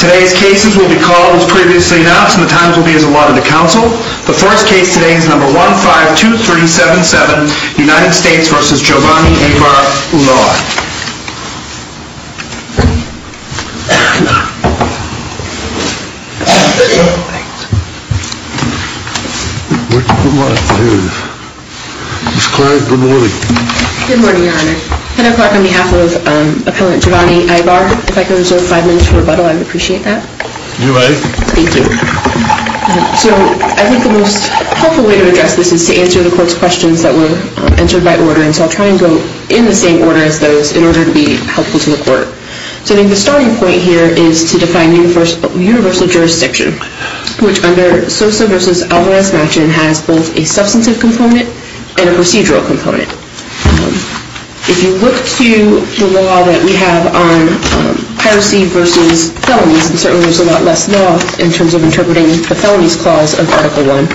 Today's cases will be called as previously announced, and the times will be as allotted to counsel. The first case today is No. 152377, United States v. Giovanni Aybar-Ulloa. Ms. Clark, good morning. Good morning, Your Honor. Heather Clark on behalf of Appellant Giovanni Aybar. If I could reserve five minutes for rebuttal, I would appreciate that. You may. Thank you. So I think the most helpful way to address this is to answer the Court's questions that were answered by order, and so I'll try and go in the same order as those in order to be helpful to the Court. So I think the starting point here is to define universal jurisdiction, which under Sosa v. Alvarez-Machin has both a substantive component and a procedural component. If you look to the law that we have on piracy v. felonies, and certainly there's a lot less law in terms of interpreting the felonies clause of Article I,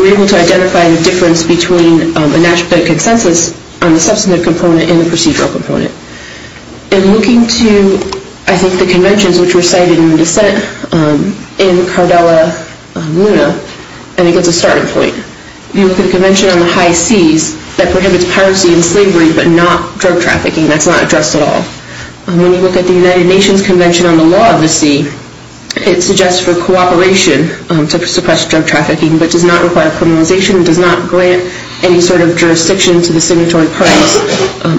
we're able to identify the difference between a national consensus on the substantive component and the procedural component. And looking to, I think, the conventions which were cited in the dissent in Cardella-Luna, I think that's a starting point. If you look at the Convention on the High Seas that prohibits piracy and slavery but not drug trafficking, that's not addressed at all. When you look at the United Nations Convention on the Law of the Sea, it suggests for cooperation to suppress drug trafficking but does not require criminalization and does not grant any sort of jurisdiction to the signatory parties,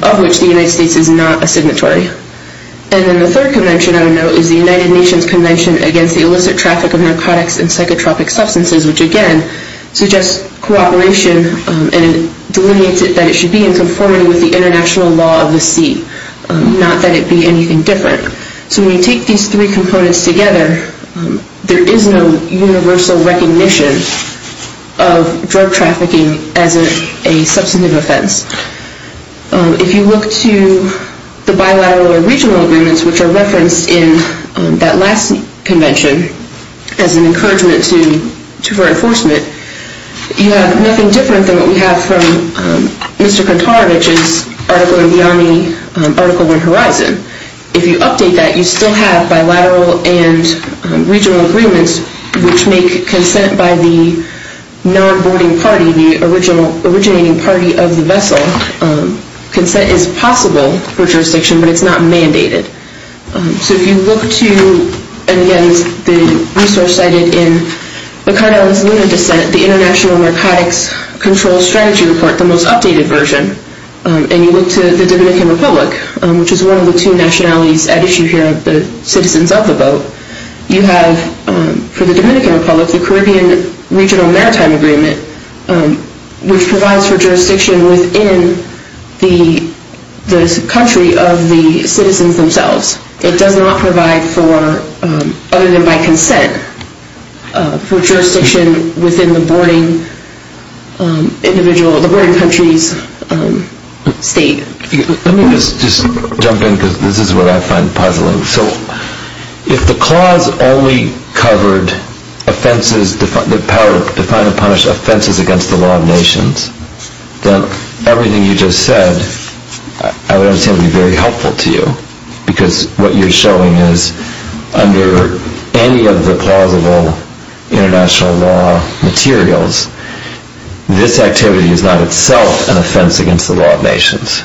of which the United States is not a signatory. And then the third convention, I don't know, is the United Nations Convention against the Illicit Traffic of Narcotics and Psychotropic Substances, which again suggests cooperation and delineates it that it should be in conformity with the international law of the sea, not that it be anything different. So when you take these three components together, there is no universal recognition of drug trafficking as a substantive offense. If you look to the bilateral or regional agreements which are referenced in that last convention as an encouragement for enforcement, you have nothing different than what we have from Mr. Kantarovich's article in the Army, article in Horizon. If you update that, you still have bilateral and regional agreements which make consent by the non-boarding party, the originating party of the vessel. Consent is possible for jurisdiction, but it's not mandated. So if you look to, and again, the resource cited in the Cardinal's Luna Dissent, the International Narcotics Control Strategy Report, the most updated version, and you look to the Dominican Republic, which is one of the two nationalities at issue here of the citizens of the boat, you have, for the Dominican Republic, the Caribbean Regional Maritime Agreement, which provides for jurisdiction within the country of the citizens themselves. It does not provide for, other than by consent, for jurisdiction within the boarding country's state. Let me just jump in because this is what I find puzzling. So if the clause only covered offenses, the power to define and punish offenses against the law of nations, then everything you just said, I would understand, would be very helpful to you because what you're showing is, under any of the plausible international law materials, this activity is not itself an offense against the law of nations.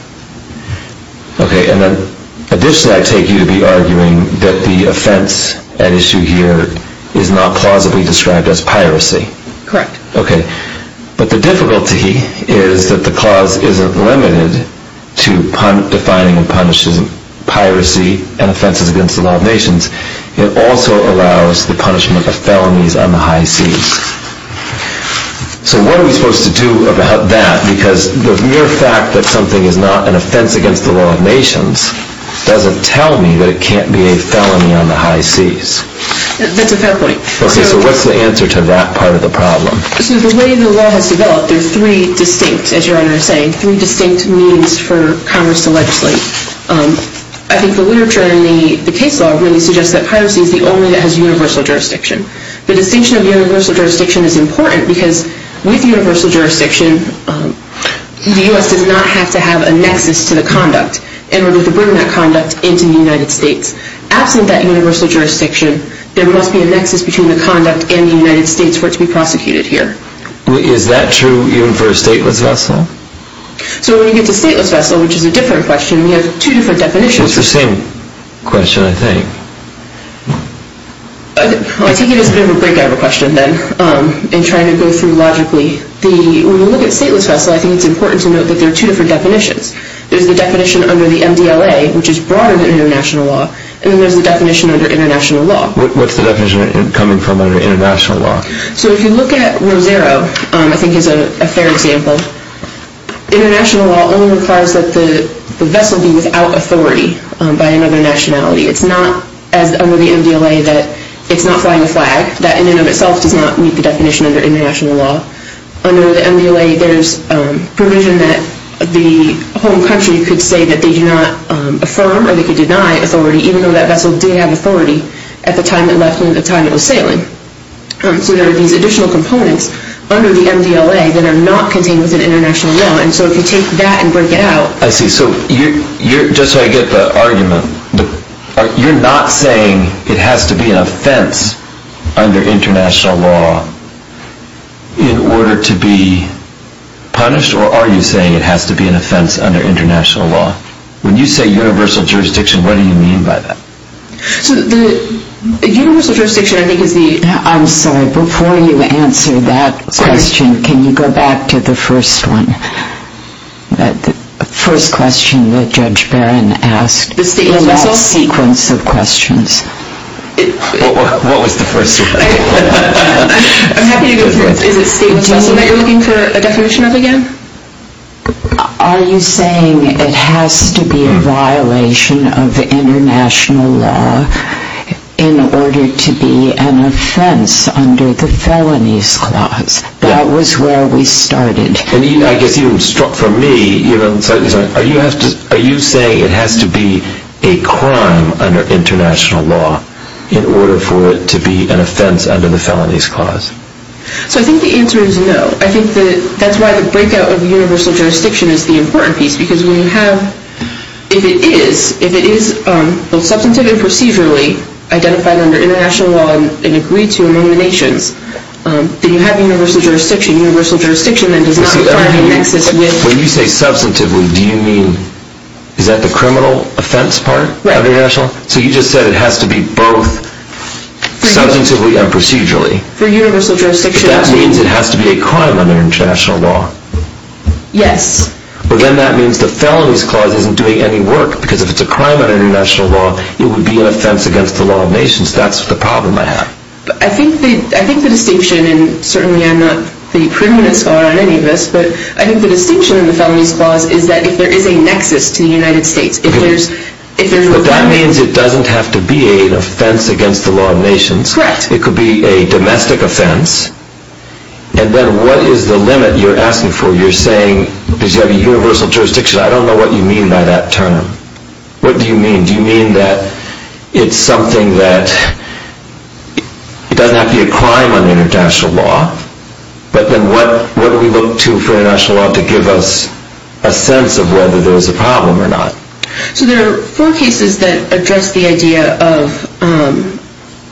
Okay, and then additionally I take you to be arguing that the offense at issue here is not plausibly described as piracy. Correct. Okay, but the difficulty is that the clause isn't limited to defining and punishing piracy and offenses against the law of nations. It also allows the punishment of felonies on the high seas. So what are we supposed to do about that? Because the mere fact that something is not an offense against the law of nations doesn't tell me that it can't be a felony on the high seas. That's a fair point. Okay, so what's the answer to that part of the problem? So the way the law has developed, there are three distinct, as Your Honor is saying, three distinct means for Congress to legislate. I think the literature in the case law really suggests that piracy is the only that has universal jurisdiction. The distinction of universal jurisdiction is important because with universal jurisdiction, the U.S. does not have to have a nexus to the conduct in order to bring that conduct into the United States. Absent that universal jurisdiction, there must be a nexus between the conduct and the United States for it to be prosecuted here. Is that true even for a stateless vessel? So when you get to stateless vessel, which is a different question, we have two different definitions. It's the same question, I think. I take it as a bit of a break out of a question then in trying to go through logically. When you look at stateless vessel, I think it's important to note that there are two different definitions. There's the definition under the MDLA, which is broader than international law, and then there's the definition under international law. What's the definition coming from under international law? So if you look at Rosero, I think is a fair example, international law only requires that the vessel be without authority by another nationality. It's not as under the MDLA that it's not flying a flag. That in and of itself does not meet the definition under international law. Under the MDLA, there's provision that the home country could say that they do not affirm or they could deny authority even though that vessel did have authority at the time it left and at the time it was sailing. So there are these additional components under the MDLA that are not contained within international law. And so if you take that and break it out... I see. So just so I get the argument, you're not saying it has to be an offense under international law in order to be punished, or are you saying it has to be an offense under international law? When you say universal jurisdiction, what do you mean by that? So the universal jurisdiction, I think, is the... I'm sorry, before you answer that question, can you go back to the first one? The first question that Judge Barron asked. The last sequence of questions. What was the first one? I'm happy to go through it. Is it a state vessel that you're looking for a definition of again? Are you saying it has to be a violation of international law in order to be an offense under the felonies clause? That was where we started. I guess for me, are you saying it has to be a crime under international law in order for it to be an offense under the felonies clause? So I think the answer is no. I think that's why the breakout of universal jurisdiction is the important piece, because when you have, if it is, if it is both substantive and procedurally identified under international law and agreed to among the nations, then you have universal jurisdiction. Universal jurisdiction then does not require any nexus with... When you say substantively, do you mean... Is that the criminal offense part of international law? So you just said it has to be both substantively and procedurally. For universal jurisdiction... But that means it has to be a crime under international law. Yes. But then that means the felonies clause isn't doing any work, because if it's a crime under international law, it would be an offense against the law of nations. That's the problem I have. I think the distinction, and certainly I'm not the preeminent scholar on any of this, but I think the distinction in the felonies clause is that if there is a nexus to the United States, if there's... But that means it doesn't have to be an offense against the law of nations. Correct. It could be a domestic offense. And then what is the limit you're asking for? You're saying, because you have universal jurisdiction, I don't know what you mean by that term. What do you mean? Do you mean that it's something that... It doesn't have to be a crime under international law, but then what do we look to for international law to give us a sense of whether there's a problem or not? So there are four cases that address the idea of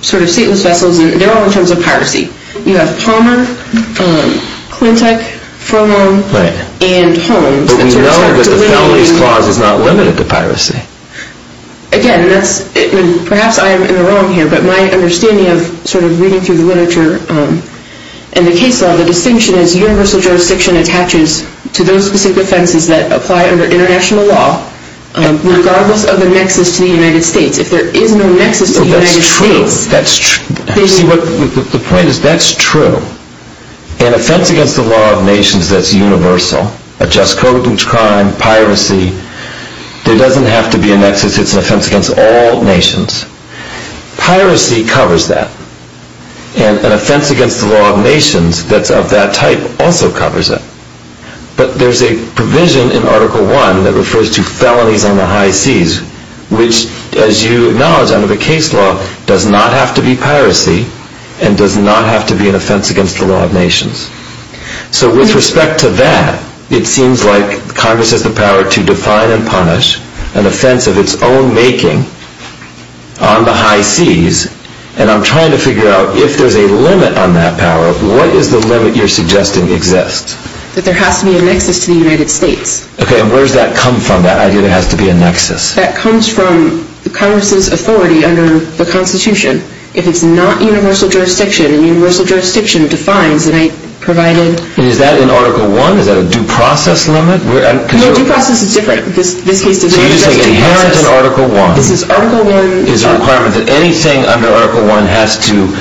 sort of stateless vessels, and they're all in terms of piracy. You have Palmer, Klintec, Furlong, and Holmes. But we know that the felonies clause is not limited to piracy. Again, perhaps I am in the wrong here, but my understanding of sort of reading through the literature and the case law, the distinction is universal jurisdiction attaches to those specific offenses that apply under international law regardless of the nexus to the United States. If there is no nexus to the United States... That's true. See, the point is that's true. An offense against the law of nations that's universal, a just code of crime, piracy, there doesn't have to be a nexus. It's an offense against all nations. Piracy covers that. And an offense against the law of nations that's of that type also covers it. But there's a provision in Article I that refers to felonies on the high seas, which, as you acknowledge under the case law, does not have to be piracy and does not have to be an offense against the law of nations. So with respect to that, it seems like Congress has the power to define and punish an offense of its own making on the high seas, and I'm trying to figure out if there's a limit on that power. What is the limit you're suggesting exists? That there has to be a nexus to the United States. Okay, and where does that come from, that idea there has to be a nexus? That comes from Congress's authority under the Constitution. If it's not universal jurisdiction, universal jurisdiction defines the right provided. Is that in Article I? Is that a due process limit? No, due process is different. So you're saying inherent in Article I is a requirement that anything under Article I has to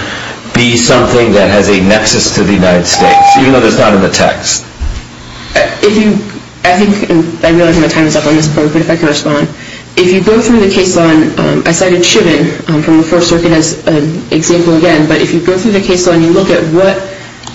be something that has a nexus to the United States, even though it's not in the text? I think I realize my time is up on this point, but if I could respond. If you go through the case law, I cited Chivin from the First Circuit as an example again, but if you go through the case law and you look at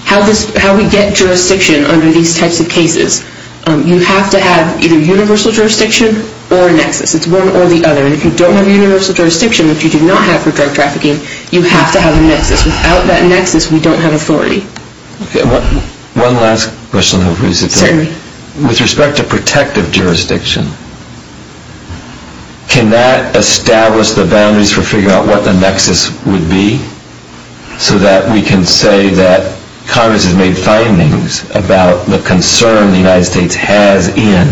how we get jurisdiction under these types of cases, you have to have either universal jurisdiction or a nexus. It's one or the other, and if you don't have universal jurisdiction, which you do not have for drug trafficking, you have to have a nexus. Without that nexus, we don't have authority. One last question. With respect to protective jurisdiction, can that establish the boundaries for figuring out what the nexus would be so that we can say that Congress has made findings about the concern the United States has in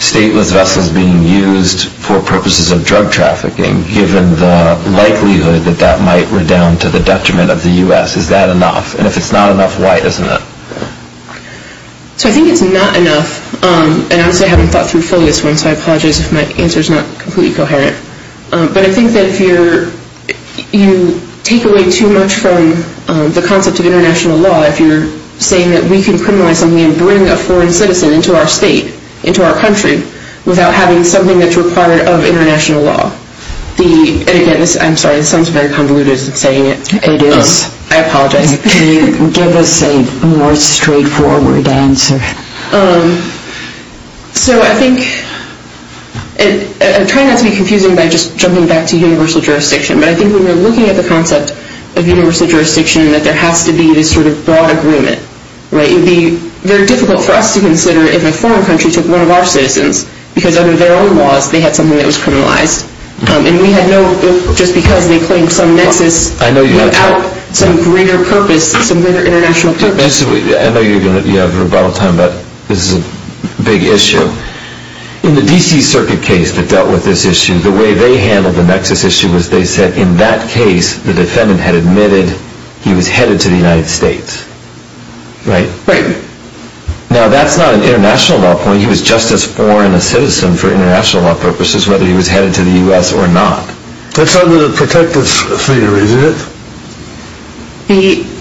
stateless vessels being used for purposes of drug trafficking, given the likelihood that that might redound to the detriment of the U.S.? Is that enough? And if it's not enough, why isn't it? So I think it's not enough. And honestly, I haven't thought through fully this one, so I apologize if my answer is not completely coherent. But I think that if you take away too much from the concept of international law, if you're saying that we can criminalize something and bring a foreign citizen into our state, into our country, without having something that's required of international law. And again, I'm sorry, this sounds very convoluted saying it, but it is. I apologize. Can you give us a more straightforward answer? So I think I'm trying not to be confusing by just jumping back to universal jurisdiction, but I think when we're looking at the concept of universal jurisdiction that there has to be this sort of broad agreement. It would be very difficult for us to consider if a foreign country took one of our citizens because under their own laws they had something that was criminalized. And we had no just because they claimed some nexus without some greater purpose, some greater international purpose. I know you have a lot of time, but this is a big issue. In the D.C. Circuit case that dealt with this issue, the way they handled the nexus issue was they said in that case the defendant had admitted he was headed to the United States. Right? Right. Now that's not an international law point. He was just as foreign a citizen for international law purposes, whether he was headed to the U.S. or not. That's under the protective theory, isn't it?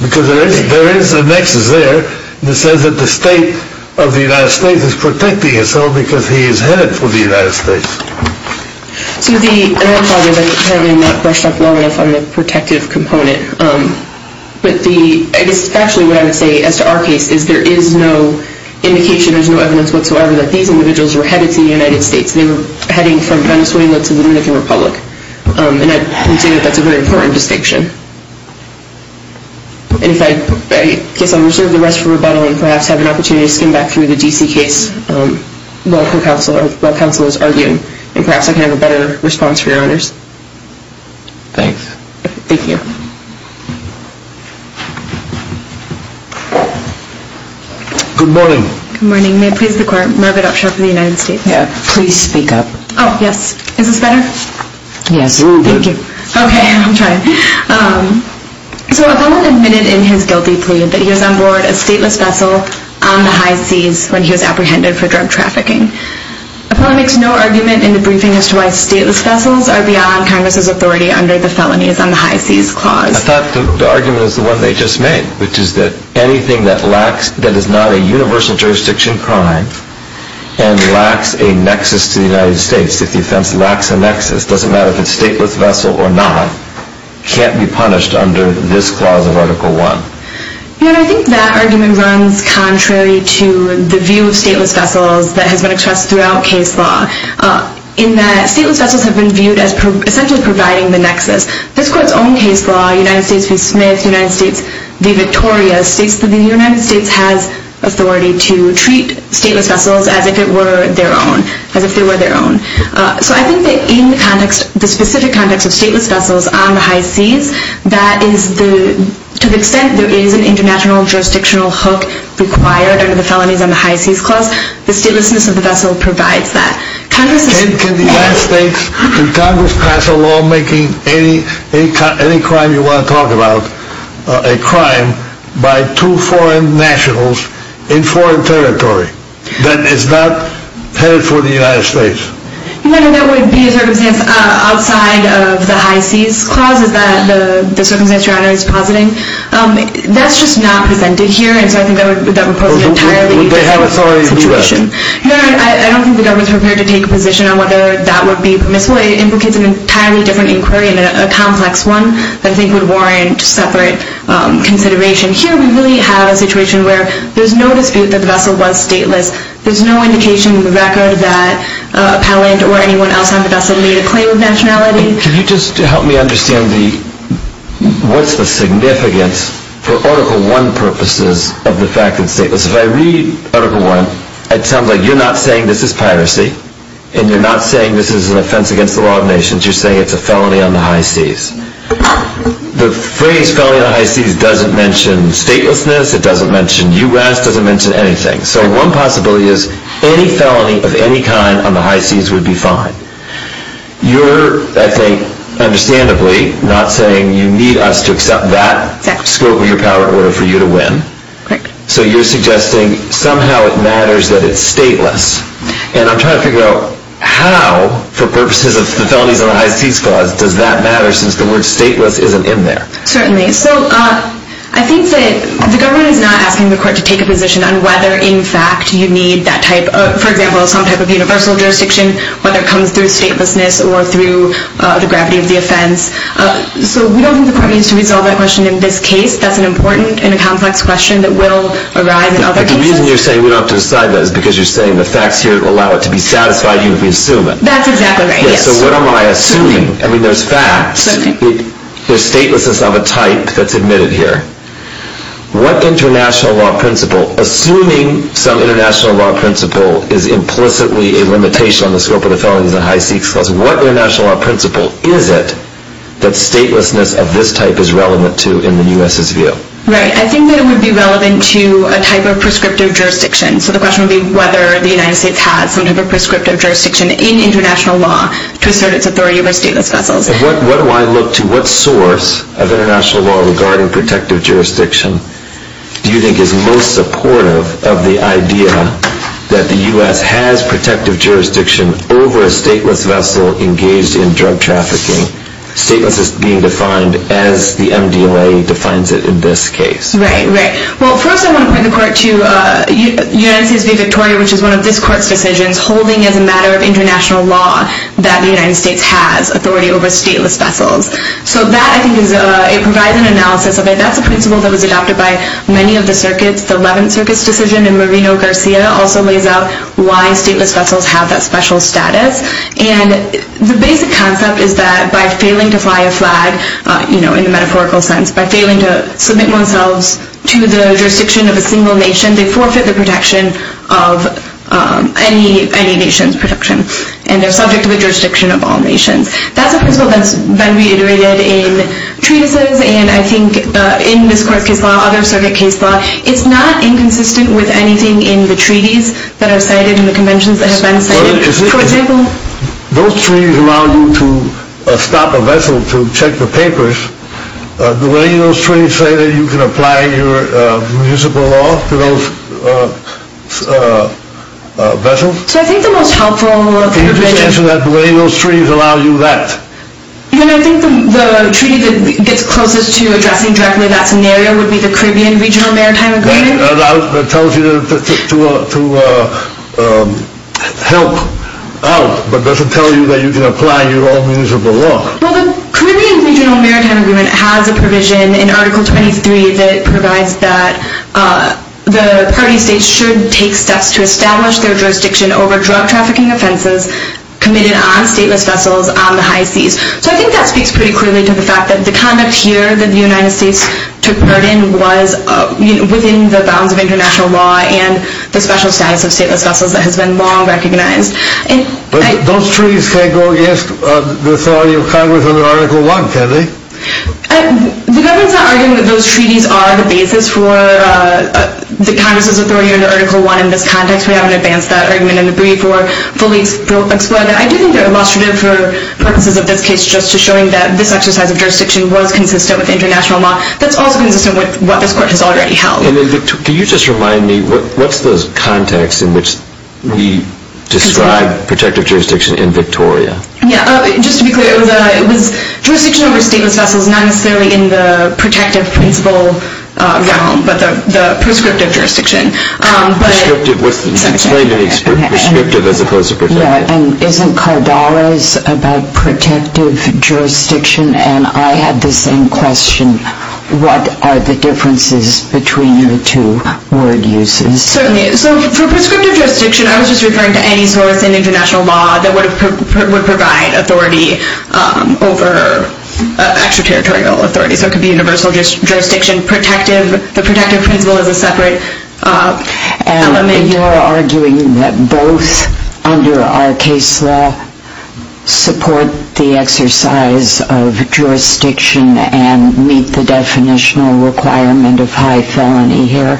Because there is a nexus there that says that the state of the United States is protecting itself because he is headed for the United States. So the, and I apologize, I apparently have not brushed up long enough on the protective component. But the, I guess factually what I would say as to our case is there is no indication, there's no evidence whatsoever that these individuals were headed to the United States. They were heading from Venezuela to the Dominican Republic. And I would say that that's a very important distinction. And if I, I guess I'll reserve the rest for rebuttal and perhaps have an opportunity to skim back through the D.C. case while counsel is arguing. And perhaps I can have a better response for your honors. Thanks. Thank you. Good morning. Good morning. May it please the court. Margaret Upshaw for the United States. Please speak up. Oh, yes. Is this better? Yes. Thank you. Okay. I'll try. So a felon admitted in his guilty plea that he was on board a stateless vessel on the high seas when he was apprehended for drug trafficking. A felon makes no argument in the briefing as to why stateless vessels are beyond Congress's authority under the felonies on the high seas clause. I thought the argument was the one they just made, which is that anything that lacks, that is not a universal jurisdiction crime and lacks a nexus to the United States, if the offense lacks a nexus, doesn't matter if it's stateless vessel or not, can't be punished under this clause of Article I. I think that argument runs contrary to the view of stateless vessels that has been expressed throughout case law in that stateless vessels have been viewed as essentially providing the nexus. This court's own case law, United States v. Smith, United States v. Victoria, states that the United States has authority to treat stateless vessels as if it were their own, as if they were their own. So I think that in the context, the specific context of stateless vessels on the high seas, that is to the extent there is an international jurisdictional hook required under the felonies on the high seas clause, the statelessness of the vessel provides that. Can the United States, can Congress pass a law making any crime you want to talk about a crime by two foreign nationals in foreign territory that is not headed for the United States? No, no, that would be a circumstance outside of the high seas clause that the circumstance your honor is positing. That's just not presented here and so I think that would pose an entirely different situation. Would they have authority to do that? No, I don't think the government is prepared to take a position on whether that would be permissible. It implicates an entirely different inquiry and a complex one that I think would warrant separate consideration. Here we really have a situation where there's no dispute that the vessel was stateless. There's no indication in the record that appellant or anyone else on the vessel made a claim of nationality. Can you just help me understand the, what's the significance for Article I purposes of the fact that it's stateless? If I read Article I, it sounds like you're not saying this is piracy and you're not saying this is an offense against the law of nations. You're saying it's a felony on the high seas. The phrase felony on the high seas doesn't mention statelessness, it doesn't mention U.S., it doesn't mention anything. So one possibility is any felony of any kind on the high seas would be fine. You're, I think, understandably not saying you need us to accept that scope of your power order for you to win. So you're suggesting somehow it matters that it's stateless. And I'm trying to figure out how, for purposes of the felonies on the high seas clause, does that matter since the word stateless isn't in there? Certainly. So I think that the government is not asking the court to take a position on whether, in fact, you need that type of, for example, some type of universal jurisdiction, whether it comes through statelessness or through the gravity of the offense. So we don't think the court needs to resolve that question in this case. That's an important and a complex question that will arrive in other cases. But the reason you're saying we don't have to decide that is because you're saying the facts here allow it to be satisfied, even if we assume it. That's exactly right, yes. So what am I assuming? I mean, there's facts. There's statelessness of a type that's admitted here. What international law principle, assuming some international law principle is implicitly a limitation on the scope of the felonies on the high seas clause, what international law principle is it that statelessness of this type is relevant to in the U.S.'s view? Right. I think that it would be relevant to a type of prescriptive jurisdiction. So the question would be whether the United States has some type of prescriptive jurisdiction in international law to assert its authority over stateless vessels. What do I look to? What source of international law regarding protective jurisdiction do you think is most supportive of the idea that the U.S. has protective jurisdiction over a stateless vessel engaged in drug trafficking, statelessness being defined as the MDLA defines it in this case? Right, right. Well, first I want to point the court to United States v. Victoria, which is one of this court's decisions holding as a matter of international law that the United States has authority over stateless vessels. So that, I think, provides an analysis of it. That's a principle that was adopted by many of the circuits. The 11th Circuit's decision in Marino-Garcia also lays out why stateless vessels have that special status. And the basic concept is that by failing to fly a flag, you know, in a metaphorical sense, by failing to submit themselves to the jurisdiction of a single nation, they forfeit the protection of any nation's protection. And they're subject to the jurisdiction of all nations. That's a principle that's been reiterated in treatises and, I think, in this court's case law, other circuit case law. It's not inconsistent with anything in the treaties that are cited and the conventions that have been cited. For example? Those treaties allow you to stop a vessel to check the papers. Do any of those treaties say that you can apply your municipal law to those vessels? So I think the most helpful kind of thing is... Can you just answer that, the way those treaties allow you that? I think the treaty that gets closest to addressing directly that scenario would be the Caribbean Regional Maritime Agreement. It tells you to help out, but doesn't tell you that you can apply your own municipal law. Well, the Caribbean Regional Maritime Agreement has a provision in Article 23 that provides that the party states should take steps to establish their jurisdiction over drug trafficking offenses committed on stateless vessels on the high seas. So I think that speaks pretty clearly to the fact that the conduct here that the United States took part in was within the bounds of international law and the special status of stateless vessels that has been long recognized. But those treaties can't go against the authority of Congress under Article 1, can they? The government's not arguing that those treaties are the basis for the Congress's authority under Article 1. In this context, we haven't advanced that argument in the brief or fully explored it. I do think they're illustrative for purposes of this case just to show that this exercise of jurisdiction was consistent with international law. That's also consistent with what this Court has already held. Can you just remind me, what's the context in which we describe protective jurisdiction in Victoria? Just to be clear, it was jurisdiction over stateless vessels, not necessarily in the protective principle realm, but the prescriptive jurisdiction. Prescriptive, explain to me prescriptive as opposed to protective. Yeah, and isn't Cardales about protective jurisdiction? And I had the same question. What are the differences between the two word uses? Certainly. So for prescriptive jurisdiction, I was just referring to any source in international law that would provide authority over extraterritorial authority. So it could be universal jurisdiction, protective. The protective principle is a separate element. So you're arguing that both, under our case law, support the exercise of jurisdiction and meet the definitional requirement of high felony here?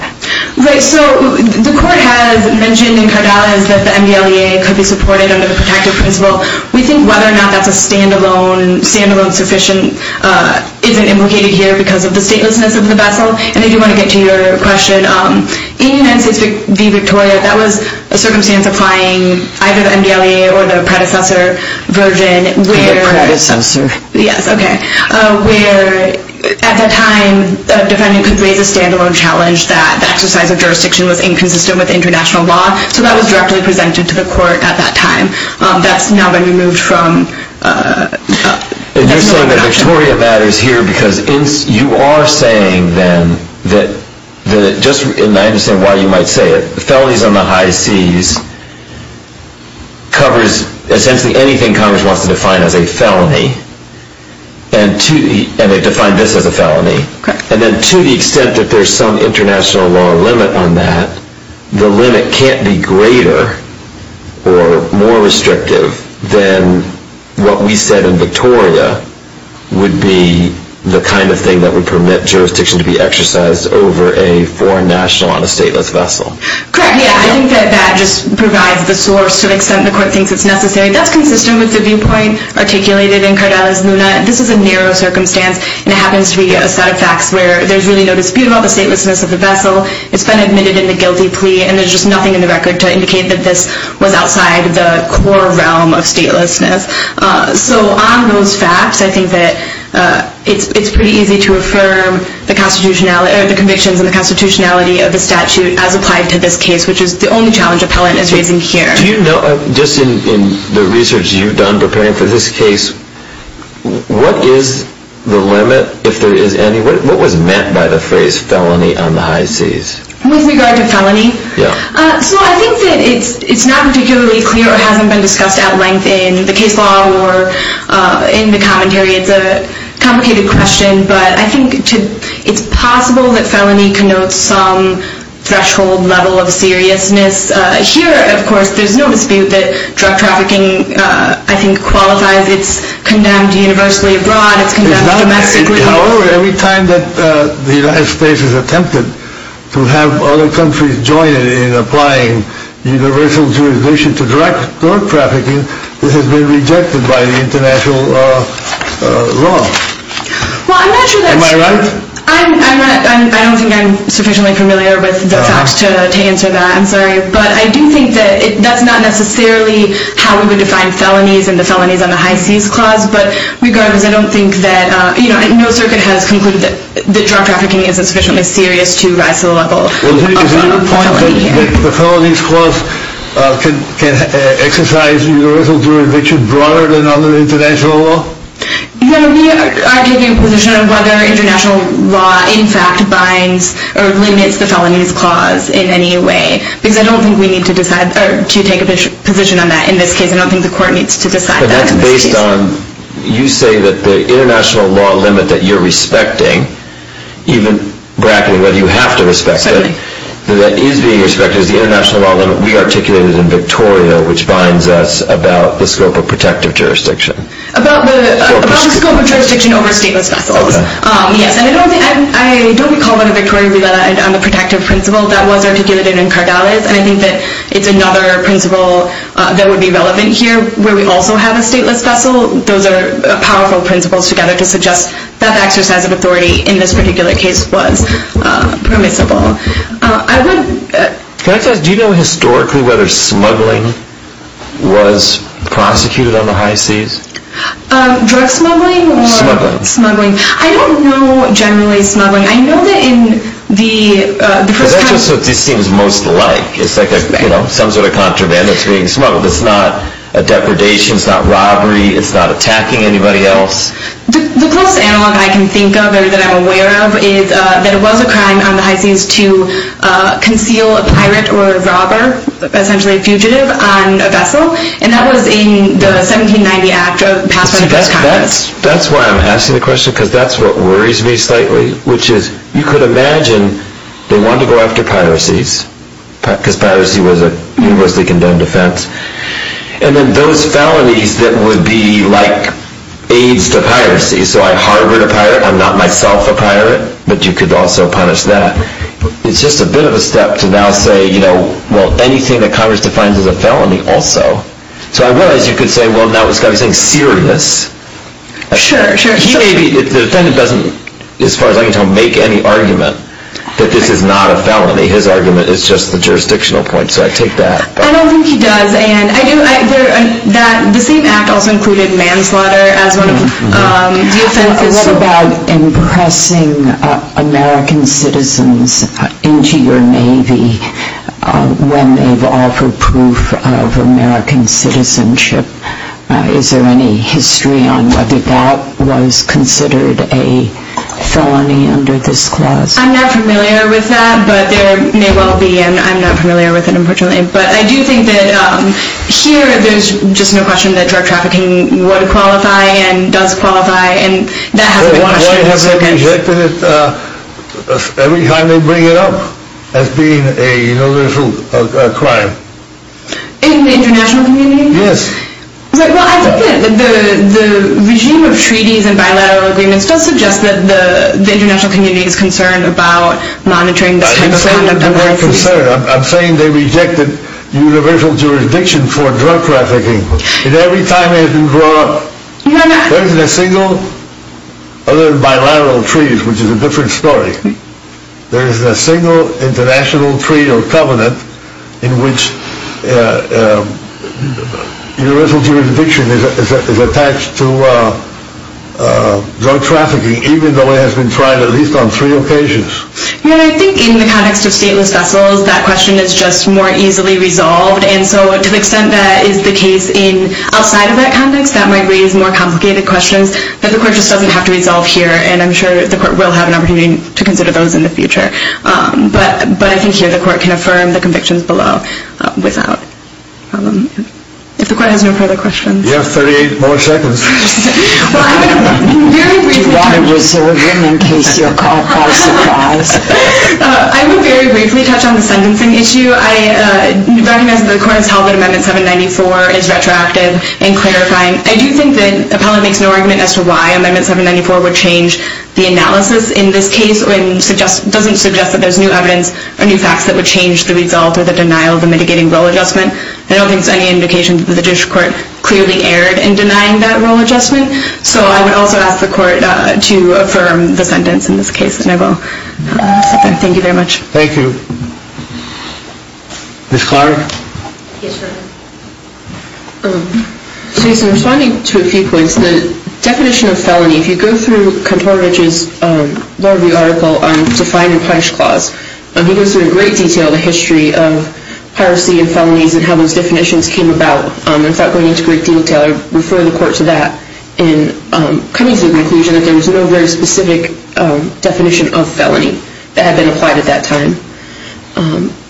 Right, so the Court has mentioned in Cardales that the MDLEA could be supported under the protective principle. We think whether or not that's a stand-alone sufficient isn't implicated here because of the statelessness of the vessel. And I do want to get to your question. In United States v. Victoria, that was a circumstance applying either the MDLEA or the predecessor version. The predecessor? Yes, okay. Where at that time, the defendant could raise a stand-alone challenge that the exercise of jurisdiction was inconsistent with international law. So that was directly presented to the Court at that time. That's now been removed from international jurisdiction. And you're saying that Victoria matters here because you are saying then that, and I understand why you might say it, felonies on the high seas covers essentially anything Congress wants to define as a felony. And they've defined this as a felony. And then to the extent that there's some international law limit on that, the limit can't be greater or more restrictive than what we said in Victoria would be the kind of thing that would permit jurisdiction to be exercised over a foreign national on a stateless vessel. Correct, yeah. I think that that just provides the source to the extent the Court thinks it's necessary. That's consistent with the viewpoint articulated in Cardales-Luna. This is a narrow circumstance. And it happens to be a set of facts where there's really no dispute about the statelessness of the vessel. It's been admitted in the guilty plea, and there's just nothing in the record to indicate that this was outside the core realm of statelessness. So on those facts, I think that it's pretty easy to affirm the convictions and the constitutionality of the statute as applied to this case, which is the only challenge appellant is raising here. Do you know, just in the research you've done preparing for this case, what is the limit, if there is any? What was meant by the phrase felony on the high seas? With regard to felony? Yeah. So I think that it's not particularly clear or hasn't been discussed at length in the case law or in the commentary. It's a complicated question. But I think it's possible that felony connotes some threshold level of seriousness. Here, of course, there's no dispute that drug trafficking, I think, qualifies. It's condemned universally abroad. It's condemned domestically. However, every time that the United States has attempted to have other countries join it in applying universal jurisdiction to drug trafficking, it has been rejected by the international law. Well, I'm not sure that's true. Am I right? I don't think I'm sufficiently familiar with the facts to answer that. I'm sorry. But I do think that that's not necessarily how we would define felonies and the felonies on the high seas clause. But regardless, I don't think that, you know, no circuit has concluded that drug trafficking isn't sufficiently serious to rise to the level of felony. Is it your point that the felonies clause can exercise universal jurisdiction broader than other international law? No, we are taking a position on whether international law, in fact, binds or limits the felonies clause in any way. Because I don't think we need to decide or to take a position on that in this case. I don't think the court needs to decide that in this case. But that's based on, you say that the international law limit that you're respecting, even bracketing whether you have to respect it, that is being respected is the international law limit we articulated in Victoria, which binds us about the scope of protective jurisdiction. About the scope of jurisdiction over stateless vessels. Okay. Yes. And I don't recall whether Victoria relied on the protective principle that was articulated in Cardales. And I think that it's another principle that would be relevant here where we also have a stateless vessel. Those are powerful principles together to suggest that the exercise of authority in this particular case was permissible. Can I just ask, do you know historically whether smuggling was prosecuted on the high seas? Drug smuggling? Smuggling. Smuggling. I don't know generally smuggling. I know that in the first- Because that's just what this seems most like. It's like some sort of contraband that's being smuggled. It's not a depredation. It's not robbery. It's not attacking anybody else. The closest analog I can think of or that I'm aware of is that it was a crime on the high seas to conceal a pirate or a robber, essentially a fugitive, on a vessel. And that was in the 1790 Act passed by the press conference. That's why I'm asking the question because that's what worries me slightly, which is you could imagine they wanted to go after piracies because piracy was a universally condemned offense. And then those felonies that would be like aids to piracy. So I harbored a pirate. I'm not myself a pirate. But you could also punish that. It's just a bit of a step to now say, you know, well, anything that Congress defines as a felony also. So I realize you could say, well, now it's got to be something serious. Sure, sure. The defendant doesn't, as far as I can tell, make any argument that this is not a felony. His argument is just the jurisdictional point. So I take that. I don't think he does. And the same act also included manslaughter as one of the offenses. What about impressing American citizens into your Navy when they've offered proof of American citizenship? Is there any history on whether that was considered a felony under this clause? I'm not familiar with that, but there may well be. And I'm not familiar with it, unfortunately. But I do think that here there's just no question that drug trafficking would qualify and does qualify. And that has to be watched. Why have they rejected it every time they bring it up as being a crime? In the international community? Yes. Well, I think that the regime of treaties and bilateral agreements does suggest that the international community is concerned about monitoring this kind of conduct. I'm not concerned. I'm saying they rejected universal jurisdiction for drug trafficking. And every time it has been brought up, there isn't a single, other than bilateral treaties, which is a different story, there isn't a single international treaty or covenant in which universal jurisdiction is attached to drug trafficking, even though it has been tried at least on three occasions. I think in the context of stateless vessels, that question is just more easily resolved. And so to the extent that is the case outside of that context, that might raise more complicated questions that the court just doesn't have to resolve here. And I'm sure the court will have an opportunity to consider those in the future. But I think here the court can affirm the convictions below without problem. If the court has no further questions. You have 38 more seconds. Do you want to reserve them in case you're caught by surprise? I will very briefly touch on the sentencing issue. I recognize that the court has held that Amendment 794 is retroactive and clarifying. I do think that Appellate makes no argument as to why Amendment 794 would change the analysis in this case and doesn't suggest that there's new evidence or new facts that would change the result or the denial of the mitigating rule adjustment. I don't think there's any indication that the Judicial Court clearly erred in denying that rule adjustment. So I would also ask the court to affirm the sentence in this case. And I will sit there. Thank you very much. Thank you. Ms. Clark? Yes, Your Honor. So in responding to a few points, the definition of felony, if you go through Contorovich's law review article on Define and Punish Clause, he goes through in great detail the history of piracy and felonies and how those definitions came about. And without going into great detail, I would refer the court to that in coming to the conclusion that there was no very specific definition of felony that had been applied at that time.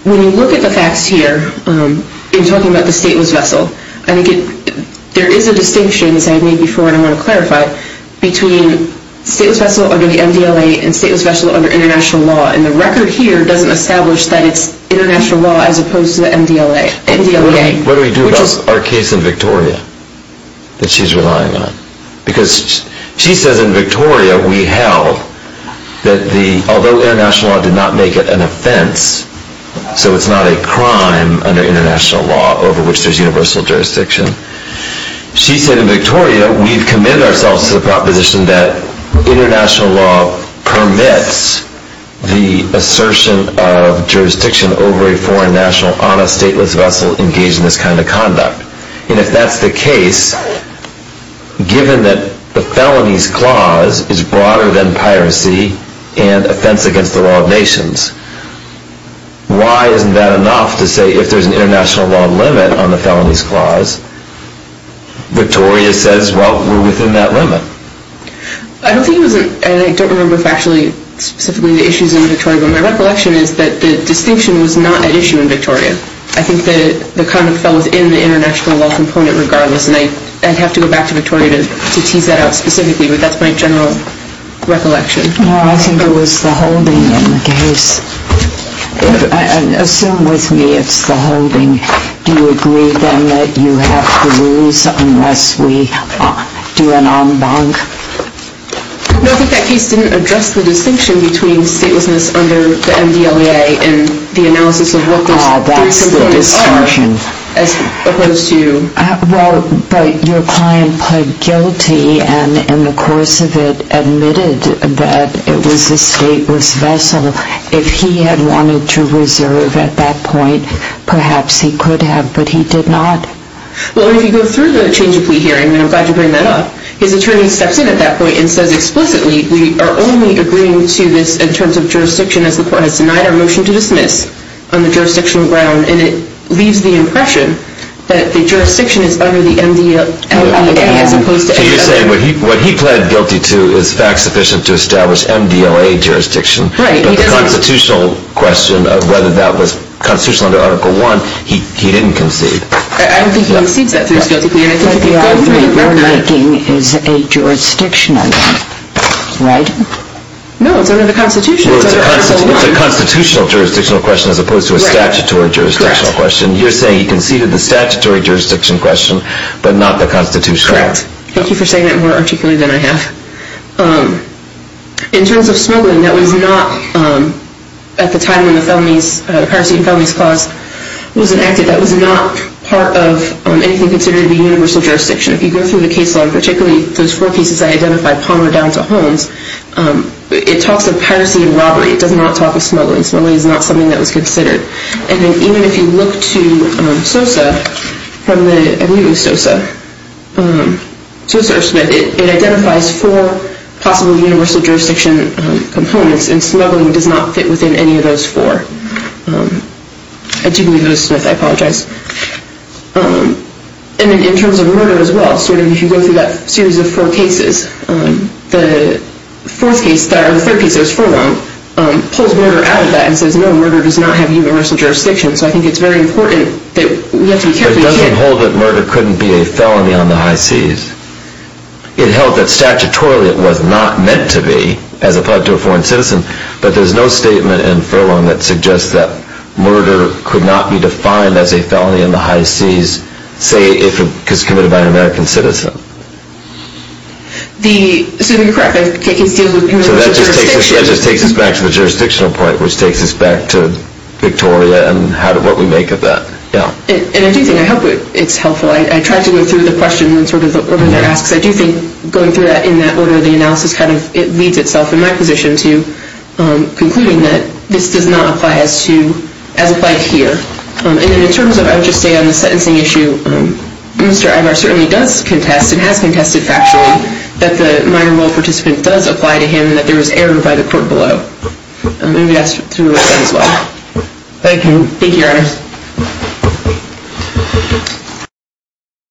When you look at the facts here in talking about the stateless vessel, I think there is a distinction, as I had made before and I want to clarify, between stateless vessel under the MDLA and stateless vessel under international law. And the record here doesn't establish that it's international law as opposed to the MDLA. What do we do about our case in Victoria that she's relying on? Because she says in Victoria we held that although international law did not make it an offense, so it's not a crime under international law over which there's universal jurisdiction, she said in Victoria we've committed ourselves to the proposition that international law permits the assertion of jurisdiction over a foreign national on a stateless vessel engaged in this kind of conduct. And if that's the case, given that the felonies clause is broader than piracy and offense against the law of nations, why isn't that enough to say if there's an international law limit on the felonies clause, Victoria says, well, we're within that limit. I don't think it was, and I don't remember factually, specifically the issues in Victoria, but my recollection is that the distinction was not at issue in Victoria. I think the conduct fell within the international law component regardless, and I'd have to go back to Victoria to tease that out specifically, but that's my general recollection. No, I think it was the holding in the case. Assume with me it's the holding. Do you agree, then, that you have the rules unless we do an en banc? No, I think that case didn't address the distinction between statelessness under the MDLA and the analysis of what those three components are as opposed to... ...that it was a stateless vessel. If he had wanted to reserve at that point, perhaps he could have, but he did not. Well, if you go through the change of plea hearing, and I'm glad you bring that up, his attorney steps in at that point and says explicitly we are only agreeing to this in terms of jurisdiction as the court has denied our motion to dismiss on the jurisdictional ground, and it leaves the impression that the jurisdiction is under the MDLA as opposed to MDLA. So you're saying what he pled guilty to is fact-sufficient to establish MDLA jurisdiction, but the constitutional question of whether that was constitutional under Article I, he didn't concede. I don't think he concedes that through his guilty plea, and I think that they all agree. Your liking is a jurisdictional one, right? No, it's under the Constitution. Well, it's a constitutional jurisdictional question as opposed to a statutory jurisdictional question. Correct. You're saying he conceded the statutory jurisdiction question, but not the constitutional. Correct. Thank you for saying that more articulately than I have. In terms of smuggling, that was not, at the time when the piracy and felonies clause was enacted, that was not part of anything considered to be universal jurisdiction. If you go through the case log, particularly those four pieces I identified, Palmer down to Holmes, it talks of piracy and robbery. It does not talk of smuggling. Smuggling is not something that was considered. And then even if you look to SOSA, I believe it was SOSA, SOSA or Smith, it identifies four possible universal jurisdiction components, and smuggling does not fit within any of those four. I do believe it was Smith. I apologize. And then in terms of murder as well, if you go through that series of four cases, the fourth case, or the third case that was forewarned, pulls murder out of that and says, no, murder does not have universal jurisdiction. So I think it's very important that we have to be careful here. It doesn't hold that murder couldn't be a felony on the high seas. It held that statutorily it was not meant to be as applied to a foreign citizen, but there's no statement in Furlong that suggests that murder could not be defined as a felony on the high seas, say, if it was committed by an American citizen. So you're correct. So that just takes us back to the jurisdictional point, which takes us back to Victoria and what we make of that. And I do think, I hope it's helpful. I tried to go through the question in sort of the order that it asks. I do think going through that in that order of the analysis kind of leads itself in my position to concluding that this does not apply as applied here. And then in terms of, I would just say on the sentencing issue, Mr. Ivar certainly does contest and has contested factually that the minor role participant does apply to him and that there was error by the court below. And maybe that's true of that as well. Thank you. Thank you, Your Honor.